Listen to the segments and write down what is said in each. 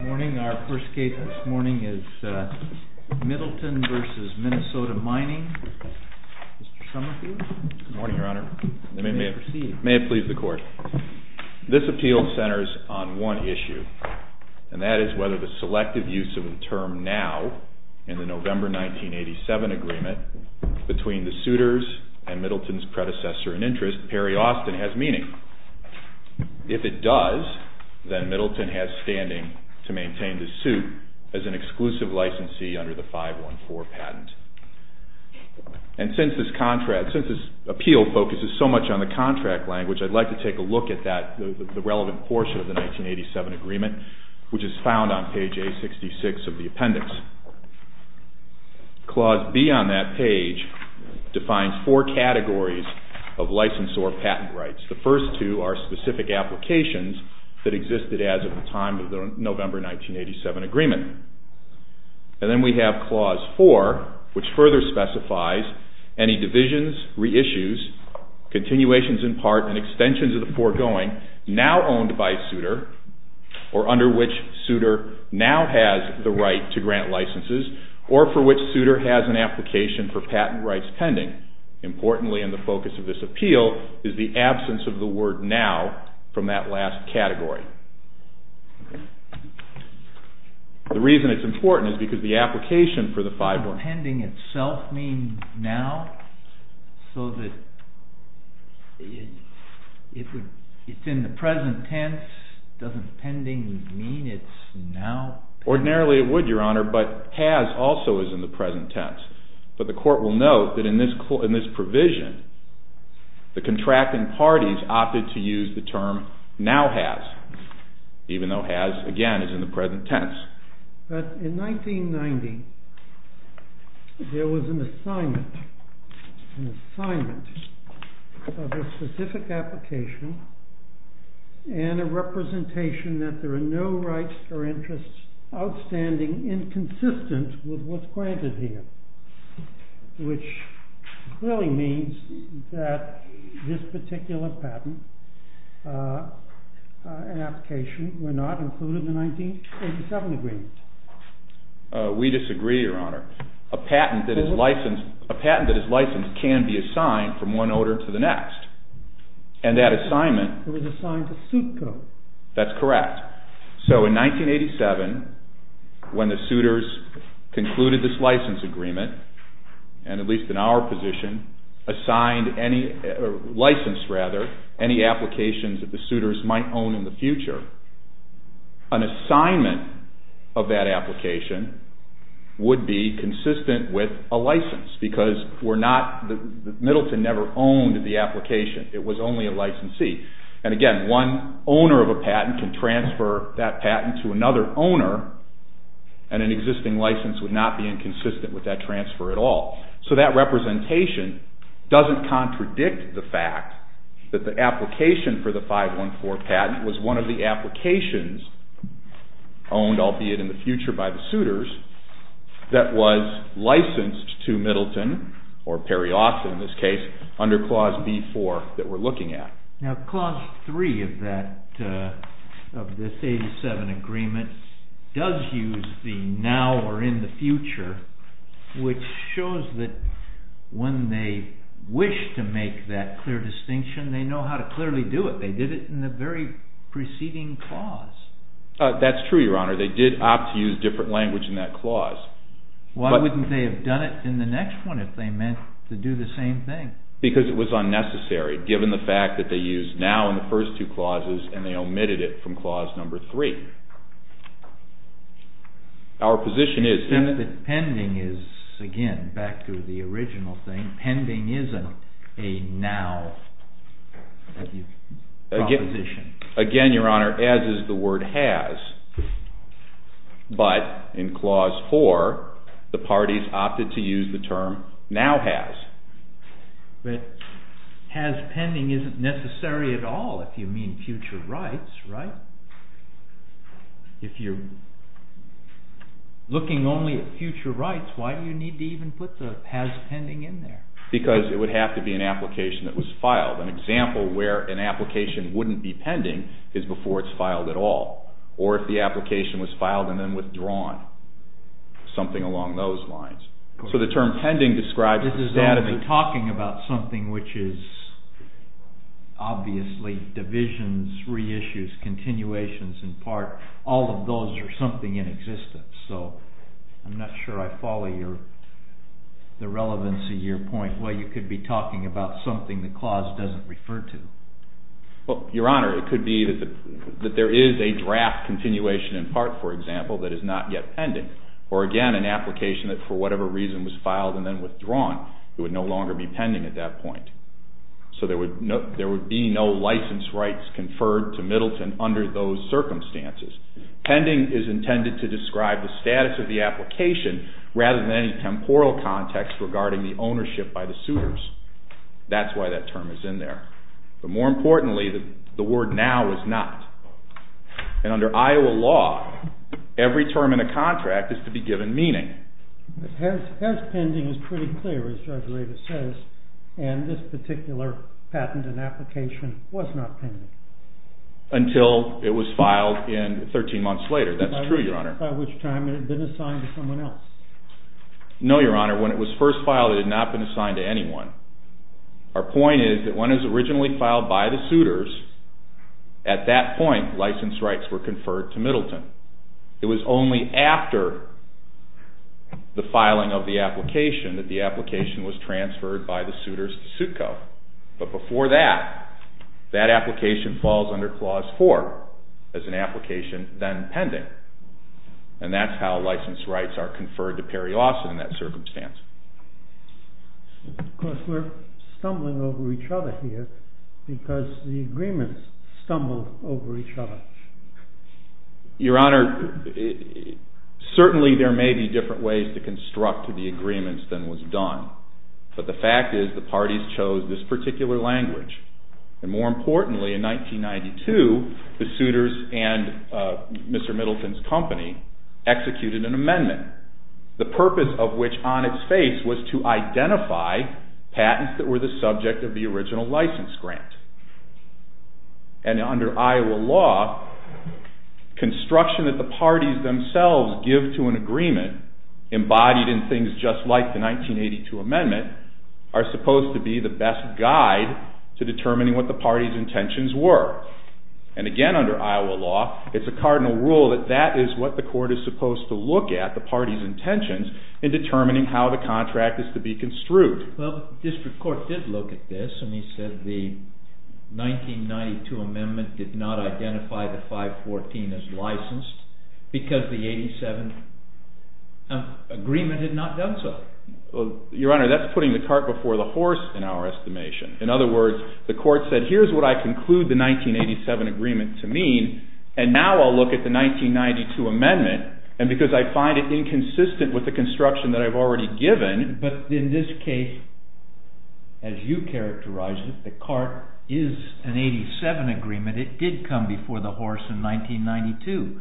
Good morning. Our first case this morning is MIDDLETON v. MINNESOTA MINING. Mr. Somerville? Good morning, Your Honor. May it please the Court. This appeal centers on one issue, and that is whether the selective use of the term now in the November 1987 agreement between the suitors and Middleton's predecessor in interest, Perry Austin, has meaning. If it does, then Middleton has standing to maintain the suit as an exclusive licensee under the 514 patent. And since this appeal focuses so much on the contract language, I'd like to take a look at the relevant portion of the 1987 agreement, which is found on page A66 of the appendix. Clause B on that page defines four categories of license or patent rights. The first two are specific applications that existed as of the time of the November 1987 agreement. And then we have Clause 4, which further specifies any divisions, reissues, continuations in part, and extensions of the foregoing now owned by a suitor, or under which suitor now has the right to grant licenses, or for which suitor has an application for patent rights pending. Importantly in the focus of this appeal is the absence of the word now from that last category. The reason it's important is because the application for the 514… Does pending itself mean now? So that it's in the present tense? Doesn't pending mean it's now? Ordinarily it would, Your Honor, but has also is in the present tense. But the court will note that in this provision, the contracting parties opted to use the term now has, even though has, again, is in the present tense. But in 1990, there was an assignment of a specific application and a representation that there are no rights or interests outstanding inconsistent with what's granted here. Which clearly means that this particular patent and application were not included in the 1987 agreement. We disagree, Your Honor. A patent that is licensed can be assigned from one order to the next. And that assignment… It was assigned to suit code. That's correct. So in 1987, when the suitors concluded this license agreement, and at least in our position, assigned any… licensed, rather, any applications that the suitors might own in the future, an assignment of that application would be consistent with a license. Because we're not… Middleton never owned the application. It was only a licensee. And again, one owner of a patent can transfer that patent to another owner, and an existing license would not be inconsistent with that transfer at all. So that representation doesn't contradict the fact that the application for the 514 patent was one of the applications owned, albeit in the future, by the suitors that was licensed to Middleton, or Perry Austin in this case, under Clause B-4 that we're looking at. Now, Clause 3 of this 1987 agreement does use the now or in the future, which shows that when they wish to make that clear distinction, they know how to clearly do it. They did it in the very preceding clause. That's true, Your Honor. They did opt to use different language in that clause. Why wouldn't they have done it in the next one if they meant to do the same thing? Because it was unnecessary, given the fact that they used now in the first two clauses, and they omitted it from Clause 3. Our position is… Pending is, again, back to the original thing, pending isn't a now proposition. Again, Your Honor, as is the word has, but in Clause 4, the parties opted to use the term now has. But has pending isn't necessary at all if you mean future rights, right? If you're looking only at future rights, why do you need to even put the has pending in there? Because it would have to be an application that was filed. An example where an application wouldn't be pending is before it's filed at all, or if the application was filed and then withdrawn, something along those lines. This is only talking about something which is obviously divisions, reissues, continuations in part. All of those are something in existence. So I'm not sure I follow the relevance of your point. Well, you could be talking about something the clause doesn't refer to. Well, Your Honor, it could be that there is a draft continuation in part, for example, that is not yet pending. Or again, an application that for whatever reason was filed and then withdrawn, it would no longer be pending at that point. So there would be no license rights conferred to Middleton under those circumstances. Pending is intended to describe the status of the application rather than any temporal context regarding the ownership by the suitors. That's why that term is in there. But more importantly, the word now is not. And under Iowa law, every term in a contract is to be given meaning. But has pending is pretty clear, as Judge Areva says, and this particular patent and application was not pending. Until it was filed 13 months later, that's true, Your Honor. By which time it had been assigned to someone else. No, Your Honor. When it was first filed, it had not been assigned to anyone. Our point is that when it was originally filed by the suitors, at that point, license rights were conferred to Middleton. It was only after the filing of the application that the application was transferred by the suitors to SUTCO. But before that, that application falls under Clause 4 as an application then pending. And that's how license rights are conferred to Perry Lawson in that circumstance. Of course, we're stumbling over each other here because the agreements stumble over each other. Your Honor, certainly there may be different ways to construct the agreements than was done. But the fact is the parties chose this particular language. And more importantly, in 1992, the suitors and Mr. Middleton's company executed an amendment. The purpose of which, on its face, was to identify patents that were the subject of the original license grant. And under Iowa law, construction that the parties themselves give to an agreement, embodied in things just like the 1982 amendment, are supposed to be the best guide to determining what the parties' intentions were. And again, under Iowa law, it's a cardinal rule that that is what the court is supposed to look at, the parties' intentions, in determining how the contract is to be construed. Well, the district court did look at this, and he said the 1992 amendment did not identify the 514 as licensed because the 87 agreement had not done so. Your Honor, that's putting the cart before the horse in our estimation. In other words, the court said, here's what I conclude the 1987 agreement to mean, and now I'll look at the 1992 amendment. And because I find it inconsistent with the construction that I've already given… But in this case, as you characterized it, the cart is an 87 agreement. It did come before the horse in 1992.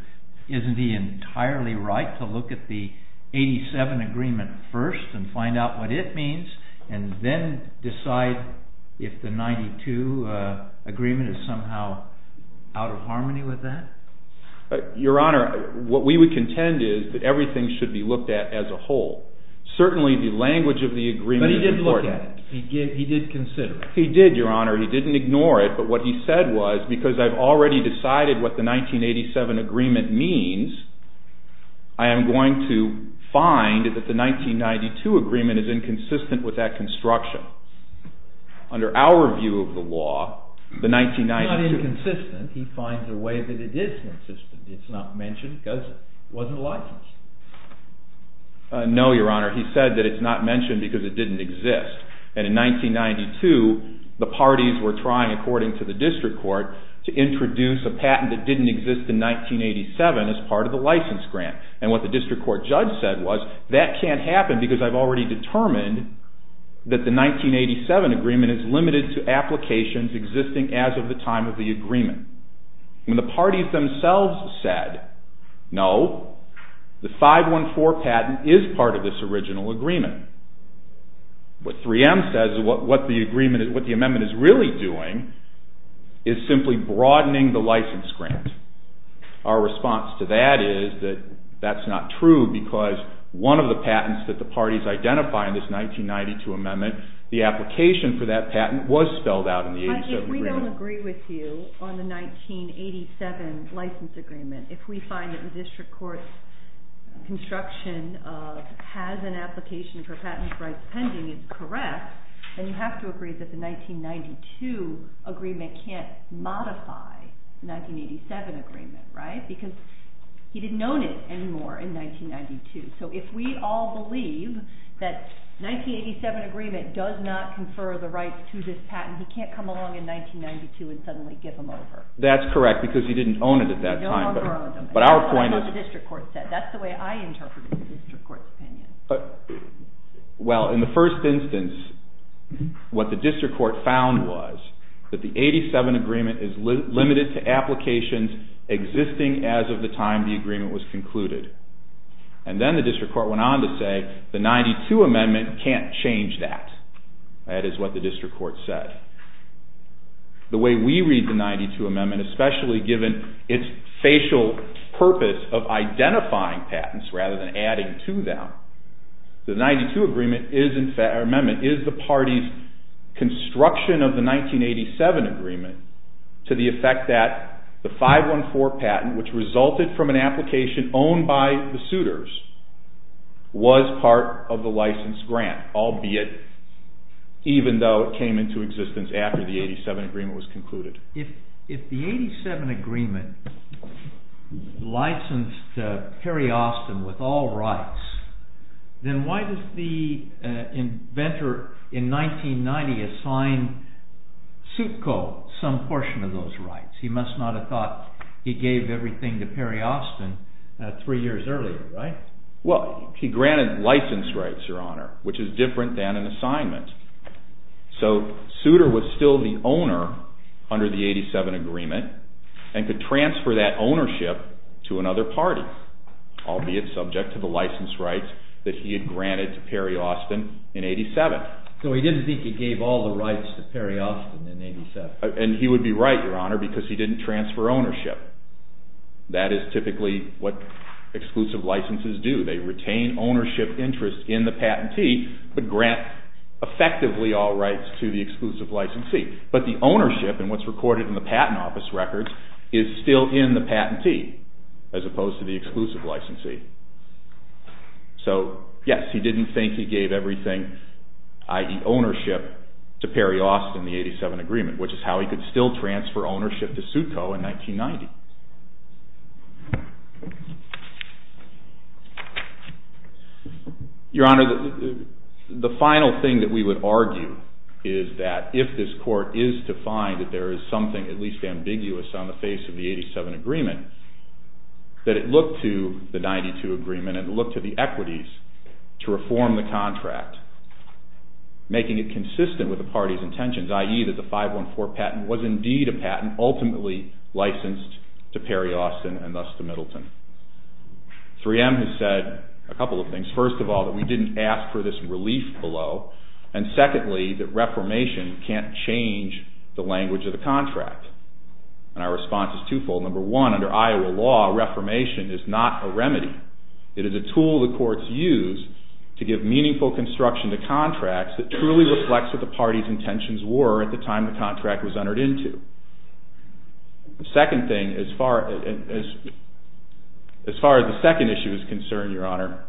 Isn't he entirely right to look at the 87 agreement first and find out what it means, and then decide if the 92 agreement is somehow out of harmony with that? Your Honor, what we would contend is that everything should be looked at as a whole. Certainly, the language of the agreement is important. But he did look at it. He did consider it. He did, Your Honor. He didn't ignore it, but what he said was, because I've already decided what the 1987 agreement means, I am going to find that the 1992 agreement is inconsistent with that construction. Under our view of the law, the 1992… It's not inconsistent. He finds a way that it is consistent. It's not mentioned because it wasn't licensed. No, Your Honor. He said that it's not mentioned because it didn't exist. And in 1992, the parties were trying, according to the district court, to introduce a patent that didn't exist in 1987 as part of the license grant. And what the district court judge said was, that can't happen because I've already determined that the 1987 agreement is limited to applications existing as of the time of the agreement. When the parties themselves said, no, the 514 patent is part of this original agreement. What 3M says, what the amendment is really doing, is simply broadening the license grant. Our response to that is that that's not true because one of the patents that the parties identify in this 1992 amendment, the application for that patent was spelled out in the agency agreement. If we don't agree with you on the 1987 license agreement, if we find that the district court's construction has an application for patents rights pending is correct, then you have to agree that the 1992 agreement can't modify the 1987 agreement, right? Because he didn't own it anymore in 1992. So if we all believe that 1987 agreement does not confer the rights to this patent, he can't come along in 1992 and suddenly give them over. That's correct because he didn't own it at that time. He no longer owns them. But our point is... That's what the district court said. That's the way I interpreted the district court's opinion. Well, in the first instance, what the district court found was that the 87 agreement is limited to applications existing as of the time the agreement was concluded. And then the district court went on to say the 92 amendment can't change that. That is what the district court said. The way we read the 92 amendment, especially given its facial purpose of identifying patents rather than adding to them, the 92 amendment is the party's construction of the 1987 agreement to the effect that the 514 patent, which resulted from an application owned by the suitors, was part of the licensed grant, albeit even though it came into existence after the 87 agreement was concluded. If the 87 agreement licensed Perry Austin with all rights, then why does the inventor in 1990 assign Sukko some portion of those rights? He must not have thought he gave everything to Perry Austin three years earlier, right? Well, he granted license rights, Your Honor, which is different than an assignment. So Suter was still the owner under the 87 agreement and could transfer that ownership to another party, albeit subject to the license rights that he had granted to Perry Austin in 87. So he didn't think he gave all the rights to Perry Austin in 87. And he would be right, Your Honor, because he didn't transfer ownership. That is typically what exclusive licenses do. They retain ownership interest in the patentee but grant effectively all rights to the exclusive licensee. But the ownership in what's recorded in the patent office records is still in the patentee as opposed to the exclusive licensee. So yes, he didn't think he gave everything, i.e. ownership, to Perry Austin in the 87 agreement, which is how he could still transfer ownership to Sukko in 1990. Your Honor, the final thing that we would argue is that if this court is to find that there is something at least ambiguous on the face of the 87 agreement, that it look to the 92 agreement and look to the equities to reform the contract, making it consistent with the party's intentions, i.e. that the 514 patent was indeed a patent ultimately licensed to Perry Austin and thus to Middleton. 3M has said a couple of things. First of all, that we didn't ask for this relief below. And secondly, that reformation can't change the language of the contract. And our response is twofold. Number one, under Iowa law, reformation is not a remedy. It is a tool the courts use to give meaningful construction to contracts that truly reflects what the party's intentions were at the time the contract was entered into. The second thing, as far as the second issue is concerned, Your Honor,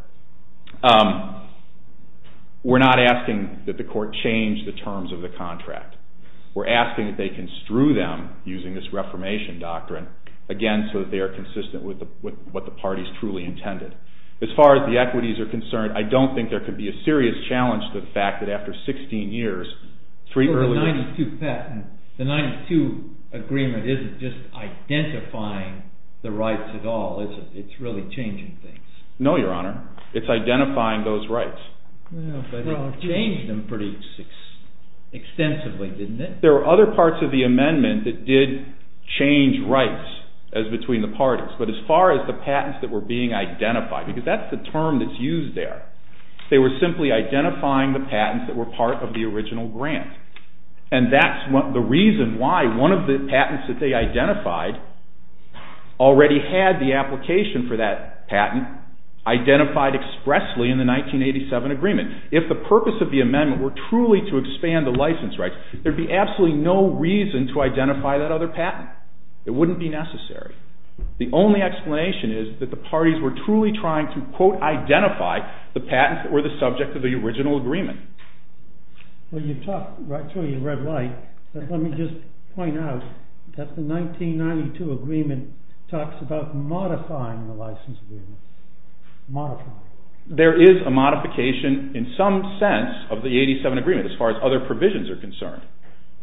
we're not asking that the court change the terms of the contract. We're asking that they construe them using this reformation doctrine, again, so that they are consistent with what the party's truly intended. As far as the equities are concerned, I don't think there could be a serious challenge to the fact that after 16 years, three earlier... The 92 agreement isn't just identifying the rights at all, is it? It's really changing things. No, Your Honor. It's identifying those rights. But it changed them pretty extensively, didn't it? There are other parts of the amendment that did change rights between the parties. But as far as the patents that were being identified, because that's the term that's used there, they were simply identifying the patents that were part of the original grant. And that's the reason why one of the patents that they identified already had the application for that patent identified expressly in the 1987 agreement. If the purpose of the amendment were truly to expand the license rights, there would be absolutely no reason to identify that other patent. It wouldn't be necessary. The only explanation is that the parties were truly trying to, quote, identify the patents that were the subject of the original agreement. Well, you talked right through your red light. But let me just point out that the 1992 agreement talks about modifying the license agreement. Modifying. There is a modification in some sense of the 1987 agreement as far as other provisions are concerned.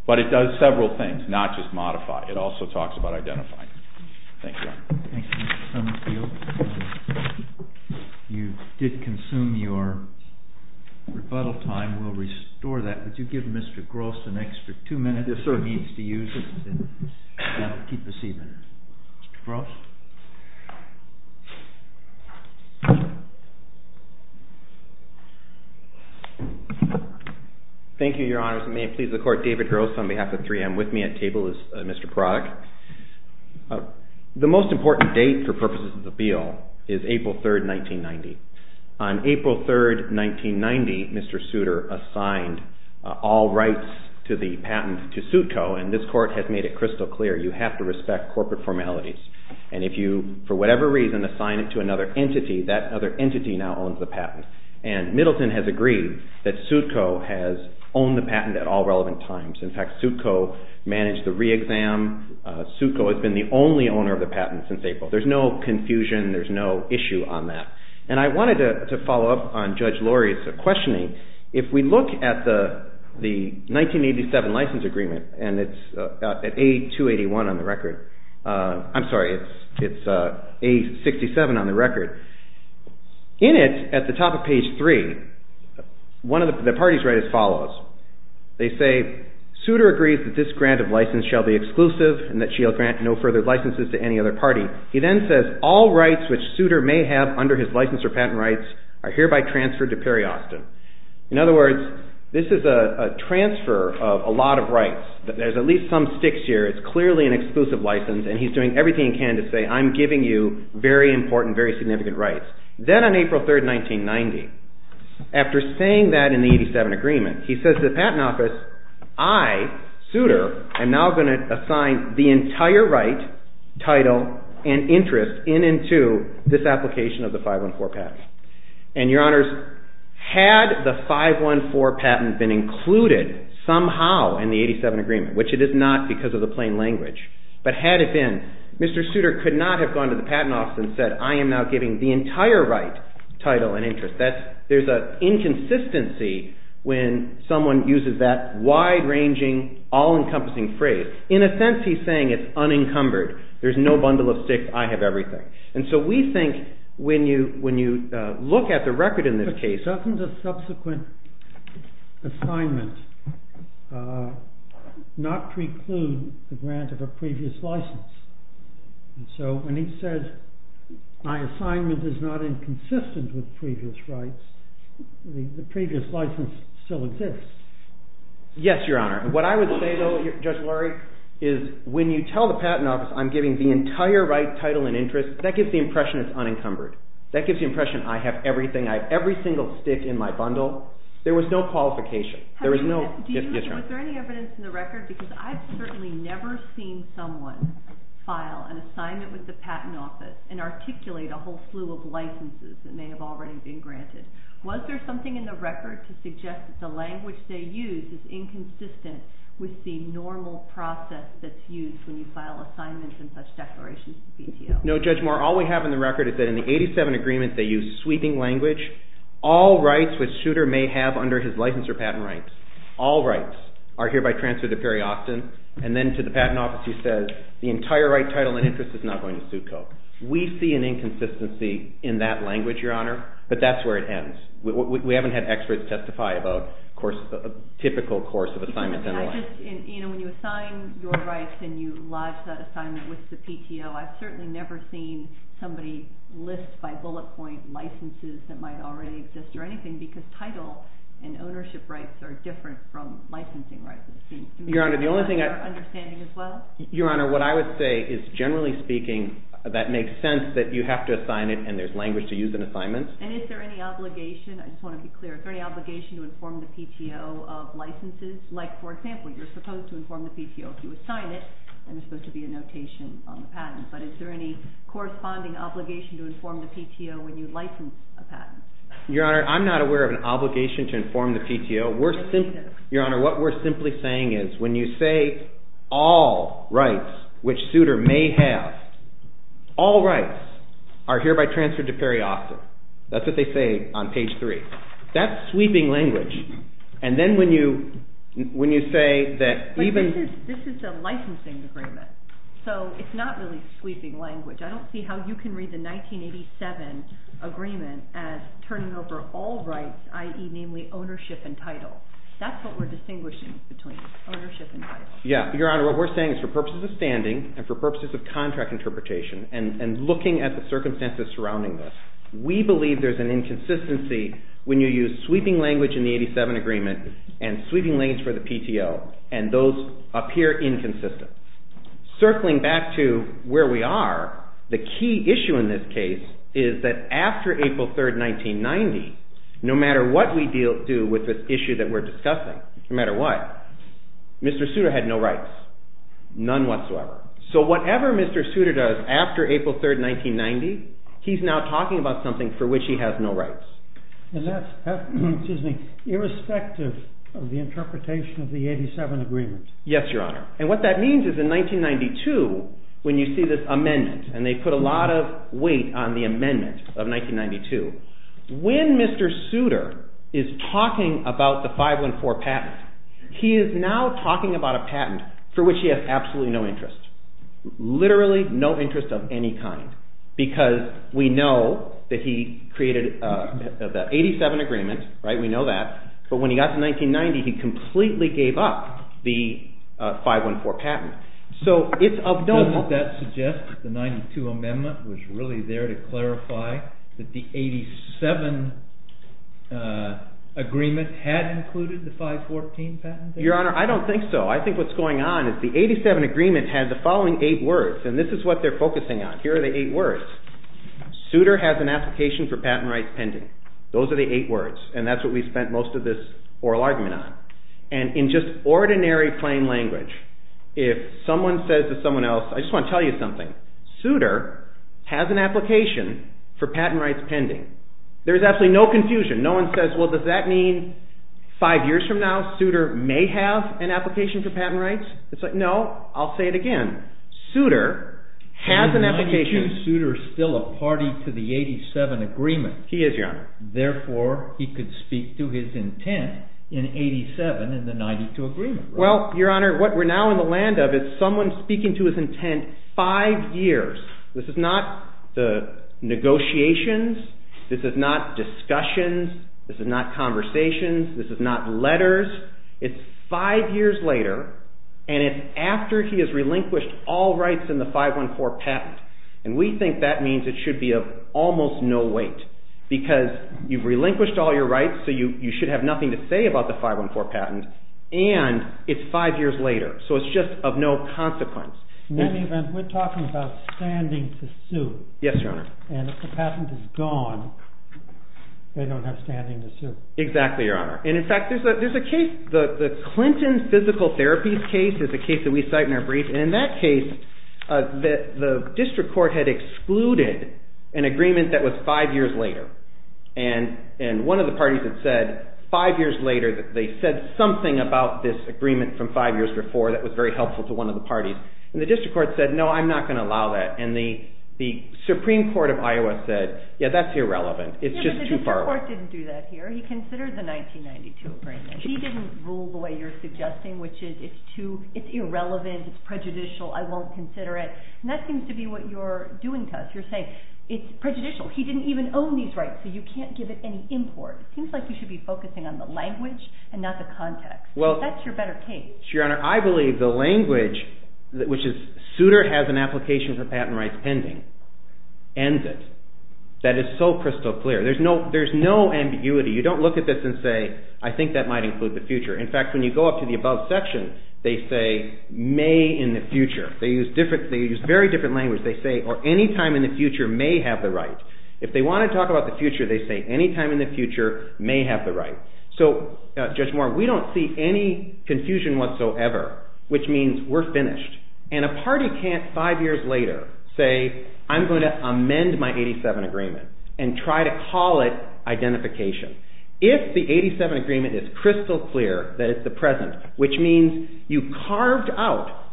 But it does several things, not just modify. It also talks about identifying. Thank you, Your Honor. Thank you, Mr. Summerfield. You did consume your rebuttal time. We'll restore that. Would you give Mr. Gross an extra two minutes if he needs to use it? Yes, sir. I'll keep the seat. Mr. Gross? Thank you, Your Honors. May it please the Court, David Gross on behalf of 3M with me at table is Mr. Prodig. The most important date for purposes of the bill is April 3rd, 1990. On April 3rd, 1990, Mr. Souter assigned all rights to the patent to SUTCO, and this Court has made it crystal clear. You have to respect corporate formalities. And if you, for whatever reason, assign it to another entity, that other entity now owns the patent. And Middleton has agreed that SUTCO has owned the patent at all relevant times. In fact, SUTCO managed the re-exam. SUTCO has been the only owner of the patent since April. There's no confusion. There's no issue on that. And I wanted to follow up on Judge Laurie's questioning. If we look at the 1987 license agreement, and it's at A281 on the record. I'm sorry, it's A67 on the record. In it, at the top of page 3, the parties write as follows. They say, Souter agrees that this grant of license shall be exclusive and that she'll grant no further licenses to any other party. He then says, all rights which Souter may have under his license or patent rights are hereby transferred to Perry Austin. In other words, this is a transfer of a lot of rights. There's at least some sticks here. It's clearly an exclusive license, and he's doing everything he can to say, I'm giving you very important, very significant rights. Then on April 3, 1990, after saying that in the 87 agreement, he says to the Patent Office, I, Souter, am now going to assign the entire right, title, and interest in and to this application of the 514 patent. Your Honors, had the 514 patent been included somehow in the 87 agreement, which it is not because of the plain language, but had it been, Mr. Souter could not have gone to the Patent Office and said, I am now giving the entire right, title, and interest. There's an inconsistency when someone uses that wide-ranging, all-encompassing phrase. In a sense, he's saying it's unencumbered. There's no bundle of sticks. I have everything. And so we think when you look at the record in this case— But doesn't the subsequent assignment not preclude the grant of a previous license? And so when he says my assignment is not inconsistent with previous rights, the previous license still exists. Yes, Your Honor. What I would say, though, Judge Lurie, is when you tell the Patent Office I'm giving the entire right, title, and interest, that gives the impression it's unencumbered. That gives the impression I have everything. I have every single stick in my bundle. There was no qualification. Was there any evidence in the record? Because I've certainly never seen someone file an assignment with the Patent Office and articulate a whole slew of licenses that may have already been granted. Was there something in the record to suggest that the language they use is inconsistent with the normal process that's used when you file assignments and such declarations to BTO? No, Judge Moore. All we have in the record is that in the 87 agreements they use sweeping language. All rights which Souter may have under his license or patent rights, all rights, are hereby transferred to Perry-Austin. And then to the Patent Office he says the entire right, title, and interest is not going to suit Koch. We see an inconsistency in that language, Your Honor. But that's where it ends. We haven't had experts testify about a typical course of assignments. When you assign your rights and you lodge that assignment with the PTO, I've certainly never seen somebody list by bullet point licenses that might already exist or anything because title and ownership rights are different from licensing rights. Your Honor, the only thing I... Your Honor, what I would say is, generally speaking, that makes sense that you have to assign it and there's language to use in assignments. And is there any obligation, I just want to be clear, is there any obligation to inform the PTO of licenses? Like, for example, you're supposed to inform the PTO if you assign it and there's supposed to be a notation on the patent. But is there any corresponding obligation to inform the PTO when you license a patent? Your Honor, I'm not aware of an obligation to inform the PTO. We're simply... Your Honor, what we're simply saying is when you say all rights which suitor may have, all rights are hereby transferred to Perry Austin. That's what they say on page 3. That's sweeping language. And then when you say that even... But this is a licensing agreement, so it's not really sweeping language. I don't see how you can read the 1987 agreement as turning over all rights, i.e. namely ownership and title. That's what we're distinguishing between ownership and title. Your Honor, what we're saying is for purposes of standing and for purposes of contract interpretation and looking at the circumstances surrounding this, we believe there's an inconsistency when you use sweeping language in the 1987 agreement and sweeping language for the PTO, and those appear inconsistent. Circling back to where we are, the key issue in this case is that after April 3, 1990, no matter what we do with this issue that we're discussing, no matter what, Mr. Souter had no rights, none whatsoever. So whatever Mr. Souter does after April 3, 1990, he's now talking about something for which he has no rights. And that's irrespective of the interpretation of the 1987 agreement. Yes, Your Honor. And what that means is in 1992, when you see this amendment, and they put a lot of weight on the amendment of 1992, when Mr. Souter is talking about the 514 patent, he is now talking about a patent for which he has absolutely no interest, literally no interest of any kind, because we know that he created the 1987 agreement, right? We know that. But when he got to 1990, he completely gave up the 514 patent. So it's of no help. Doesn't that suggest that the 92 amendment was really there to clarify that the 87 agreement had included the 514 patent? Your Honor, I don't think so. I think what's going on is the 87 agreement had the following eight words, and this is what they're focusing on. Here are the eight words. Souter has an application for patent rights pending. Those are the eight words, and that's what we spent most of this oral argument on. And in just ordinary plain language, if someone says to someone else, I just want to tell you something. Souter has an application for patent rights pending. There is absolutely no confusion. No one says, well, does that mean five years from now, Souter may have an application for patent rights? It's like, no, I'll say it again. Souter has an application. Is 92 Souter still a party to the 87 agreement? He is, Your Honor. Therefore, he could speak to his intent in 87 in the 92 agreement, right? Well, Your Honor, what we're now in the land of is that someone is speaking to his intent five years. This is not the negotiations. This is not discussions. This is not conversations. This is not letters. It's five years later, and it's after he has relinquished all rights in the 514 patent, and we think that means it should be of almost no weight because you've relinquished all your rights, so you should have nothing to say about the 514 patent, and it's five years later. So it's just of no consequence. In any event, we're talking about standing to sue. Yes, Your Honor. And if the patent is gone, they don't have standing to sue. Exactly, Your Honor. And, in fact, there's a case. The Clinton Physical Therapy case is a case that we cite in our brief, and in that case, the district court had excluded an agreement that was five years later, and one of the parties had said five years later that they said something about this agreement from five years before that was very helpful to one of the parties, and the district court said, no, I'm not going to allow that, and the Supreme Court of Iowa said, yeah, that's irrelevant. It's just too far away. Yeah, but the district court didn't do that here. He considered the 1992 agreement. He didn't rule the way you're suggesting, which is it's irrelevant, it's prejudicial, I won't consider it, and that seems to be what you're doing to us. You're saying it's prejudicial. He didn't even own these rights, so you can't give it any import. It seems like you should be focusing on the language and not the context. That's your better case. Your Honor, I believe the language, which is Souter has an application for patent rights pending, ends it. That is so crystal clear. There's no ambiguity. You don't look at this and say, I think that might include the future. In fact, when you go up to the above section, they say may in the future. They use very different language. They say, or any time in the future may have the right. If they want to talk about the future, they say any time in the future may have the right. So, Judge Moore, we don't see any confusion whatsoever, which means we're finished. And a party can't, five years later, say I'm going to amend my 87 agreement and try to call it identification. If the 87 agreement is crystal clear that it's the present, which means you carved out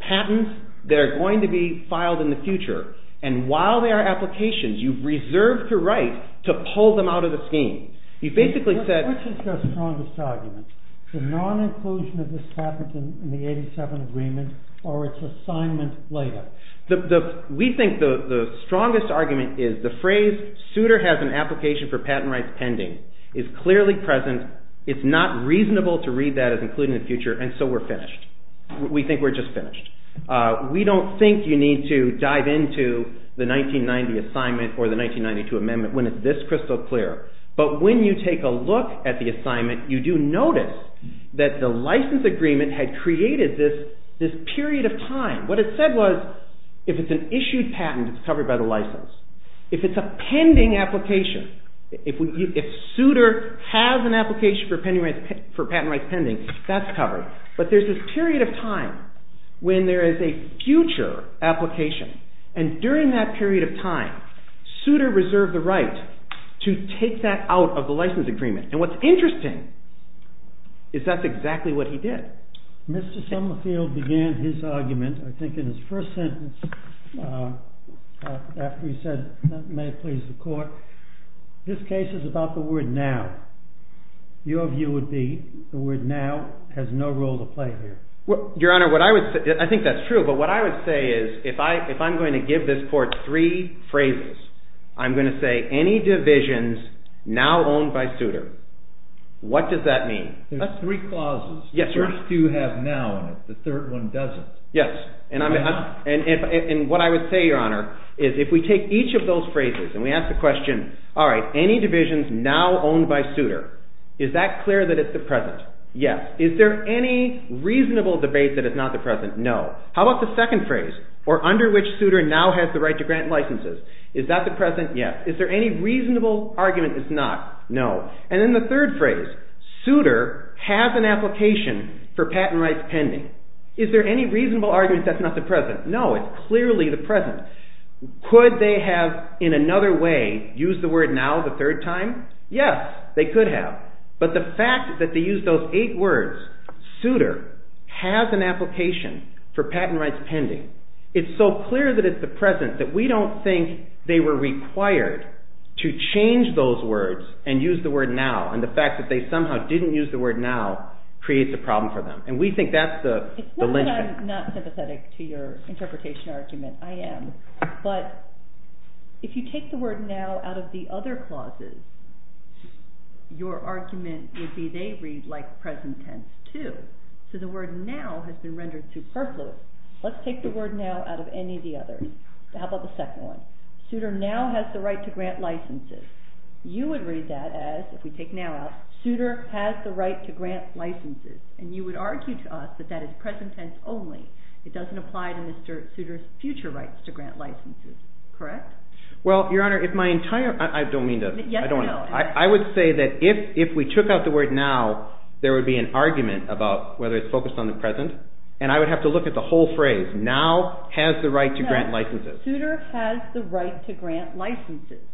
patents that are going to be filed in the future, and while they are applications, you've reserved the right to pull them out of the scheme. You basically said... What's the strongest argument? The non-inclusion of this patent in the 87 agreement or its assignment later? We think the strongest argument is the phrase, Souter has an application for patent rights pending, is clearly present. It's not reasonable to read that as including the future, and so we're finished. We think we're just finished. We don't think you need to dive into the 1990 assignment or the 1992 amendment when it's this crystal clear, but when you take a look at the assignment, you do notice that the license agreement had created this period of time. What it said was if it's an issued patent, it's covered by the license. If it's a pending application, if Souter has an application for patent rights pending, that's covered. But there's this period of time when there is a future application, and during that period of time, Souter reserved the right to take that out of the license agreement. And what's interesting is that's exactly what he did. Mr. Summerfield began his argument, I think in his first sentence, after he said, may it please the court, this case is about the word now. Your view would be the word now has no role to play here. Your Honor, I think that's true, but what I would say is if I'm going to give this court three phrases, I'm going to say any divisions now owned by Souter. What does that mean? There's three clauses. The first two have now in it. The third one doesn't. Yes. And what I would say, Your Honor, and we ask the question, all right, any divisions now owned by Souter, is that clear that it's the present? Yes. Is there any reasonable debate that it's not the present? No. How about the second phrase, or under which Souter now has the right to grant licenses? Is that the present? Yes. Is there any reasonable argument it's not? No. And then the third phrase, Souter has an application for patent rights pending. Is there any reasonable argument that's not the present? No, it's clearly the present. Could they have, in another way, used the word now the third time? Yes, they could have. But the fact that they used those eight words, Souter has an application for patent rights pending. It's so clear that it's the present that we don't think they were required to change those words and use the word now. And the fact that they somehow didn't use the word now creates a problem for them. And we think that's the lynchpin. It's not that I'm not sympathetic to your interpretation argument. I am. But if you take the word now out of the other clauses, your argument would be they read like present tense too. So the word now has been rendered superfluous. Let's take the word now out of any of the others. How about the second one? Souter now has the right to grant licenses. You would read that as, if we take now out, Souter has the right to grant licenses. And you would argue to us that that is present tense only. It doesn't apply to Mr. Souter's future rights to grant licenses. Correct? Well, Your Honor, if my entire... I don't mean to... I would say that if we took out the word now, there would be an argument about whether it's focused on the present. And I would have to look at the whole phrase. Now has the right to grant licenses. Souter has the right to grant licenses.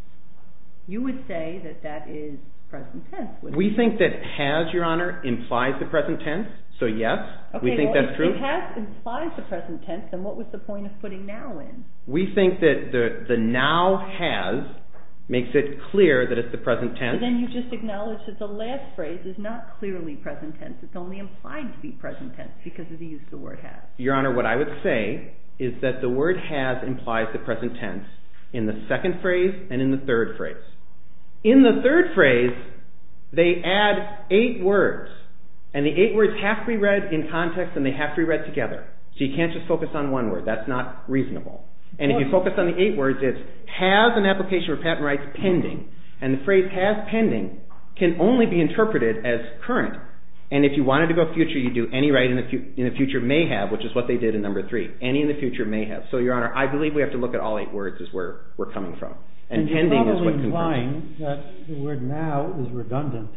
You would say that that is present tense. We think that has, Your Honor, implies the present tense. So yes, we think that's true. If has implies the present tense, then what was the point of putting now in? We think that the now has makes it clear that it's the present tense. Then you just acknowledge that the last phrase is not clearly present tense. It's only implied to be present tense because of the use of the word has. Your Honor, what I would say is that the word has implies the present tense in the second phrase and in the third phrase. In the third phrase, they add eight words. And the eight words have to be read in context and they have to be read together. So you can't just focus on one word. That's not reasonable. And if you focus on the eight words, it's has an application for patent rights pending. And the phrase has pending can only be interpreted as current. And if you wanted to go future, you do any right in the future may have, which is what they did in number three. Any in the future may have. So, Your Honor, I believe we have to look at all eight words is where we're coming from. And pending is what concludes. And you're probably implying that the word now is redundant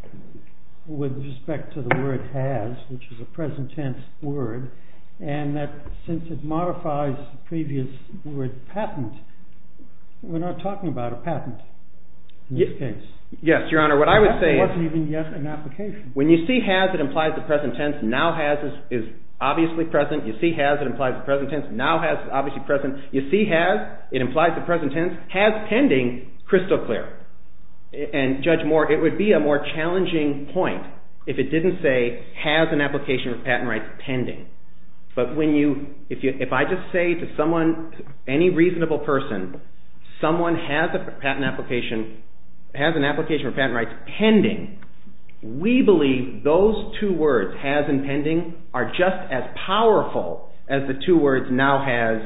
with respect to the word has, which is a present tense word. And that since it modifies the previous word patent, we're not talking about a patent in this case. Yes, Your Honor. What I would say is when you see has, it implies the present tense. Now has is obviously present. You see has, it implies the present tense. Now has is obviously present. You see has, it implies the present tense. Has pending, crystal clear. And Judge Moore, it would be a more challenging point if it didn't say has an application for patent rights pending. But if I just say to any reasonable person, someone has an application for patent rights pending, we believe those two words, has and pending, are just as powerful as the two words now has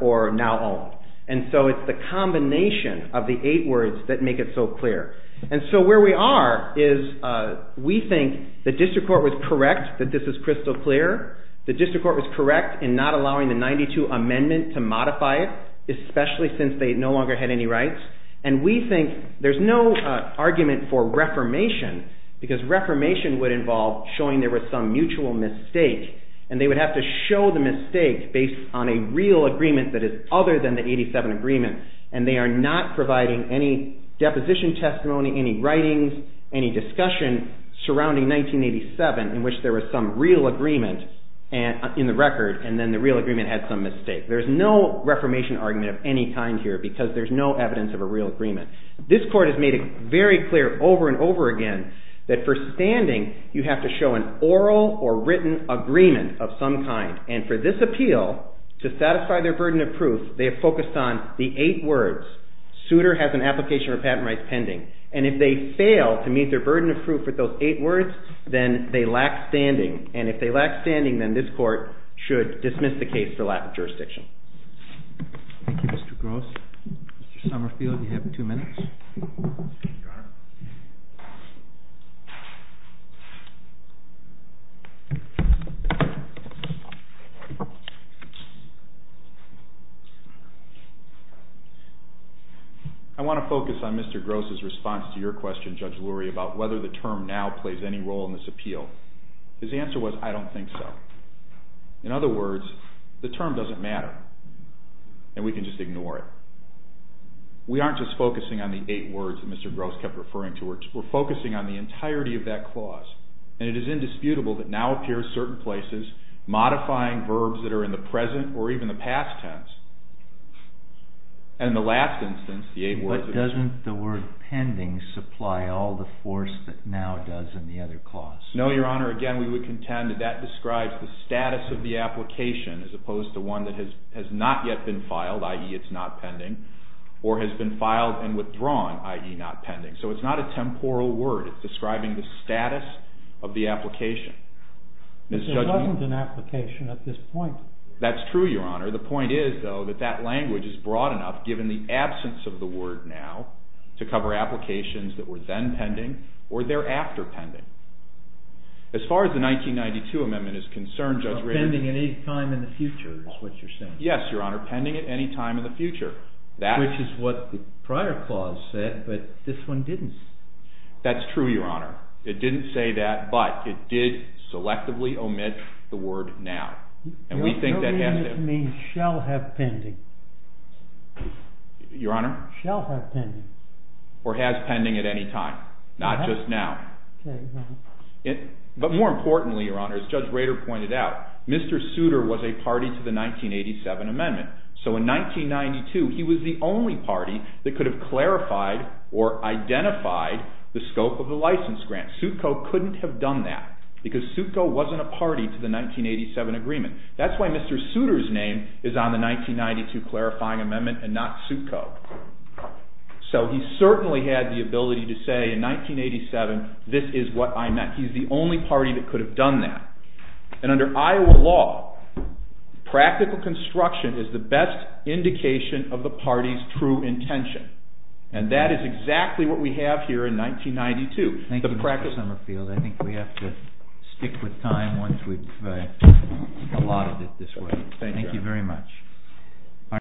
or now own. And so it's the combination of the eight words that make it so clear. And so where we are is we think the district court was correct that this is crystal clear. The district court was correct in not allowing the 92 amendment to modify it, especially since they no longer had any rights. And we think there's no argument for reformation because reformation would involve showing there was some mutual mistake. And they would have to show the mistake based on a real agreement that is other than the 87 agreement. And they are not providing any deposition testimony, any writings, any discussion surrounding 1987 in which there was some real agreement in the record and then the real agreement had some mistake. There's no reformation argument of any kind here because there's no evidence of a real agreement. This court has made it very clear over and over again that for standing, you have to show an oral or written agreement of some kind. And for this appeal, to satisfy their burden of proof, they have focused on the eight words, suitor has an application for patent rights pending. And if they fail to meet their burden of proof with those eight words, then they lack standing. And if they lack standing, then this court should dismiss the case for lack of jurisdiction. Thank you, Mr. Gross. Mr. Summerfield, you have two minutes. I want to focus on Mr. Gross' response to your question, Judge Lurie, about whether the term now plays any role in this appeal. His answer was, I don't think so. In other words, the term doesn't matter and we can just ignore it. We aren't just focusing on the eight words that Mr. Gross kept referring to. We're focusing on the entirety of that clause. And it is indisputable that now appears certain places modifying verbs that are in the present or even the past tense and the last instance, the eight words. But doesn't the word pending supply all the force that now does in the other clause? No, Your Honor. Again, we would contend that that describes the status of the application as opposed to one that has not yet been filed, i.e., it's not pending, or has been filed and withdrawn, i.e., not pending. So it's not a temporal word. It's describing the status of the application. But there wasn't an application at this point. That's true, Your Honor. The point is, though, that that language is broad enough, given the absence of the word now, to cover applications that were then pending or thereafter pending. As far as the 1992 amendment is concerned, Judge Ritter… Pending at any time in the future is what you're saying. Yes, Your Honor. Pending at any time in the future. Which is what the prior clause said, but this one didn't. That's true, Your Honor. It didn't say that, but it did selectively omit the word now. And we think that has to… Your reading it means shall have pending. Your Honor? Shall have pending. Or has pending at any time, not just now. But more importantly, Your Honor, as Judge Ritter pointed out, Mr. Souter was a party to the 1987 amendment. So in 1992, he was the only party that could have clarified or identified the scope of the license grant. Soutko couldn't have done that because Soutko wasn't a party to the 1987 agreement. That's why Mr. Souter's name is on the 1992 clarifying amendment and not Soutko. So he certainly had the ability to say in 1987, this is what I meant. He's the only party that could have done that. And under Iowa law, practical construction is the best indication of the party's true intention. And that is exactly what we have here in 1992. Thank you, Mr. Summerfield. I think we have to stick with time once we've allotted it this way. Thank you. Thank you very much.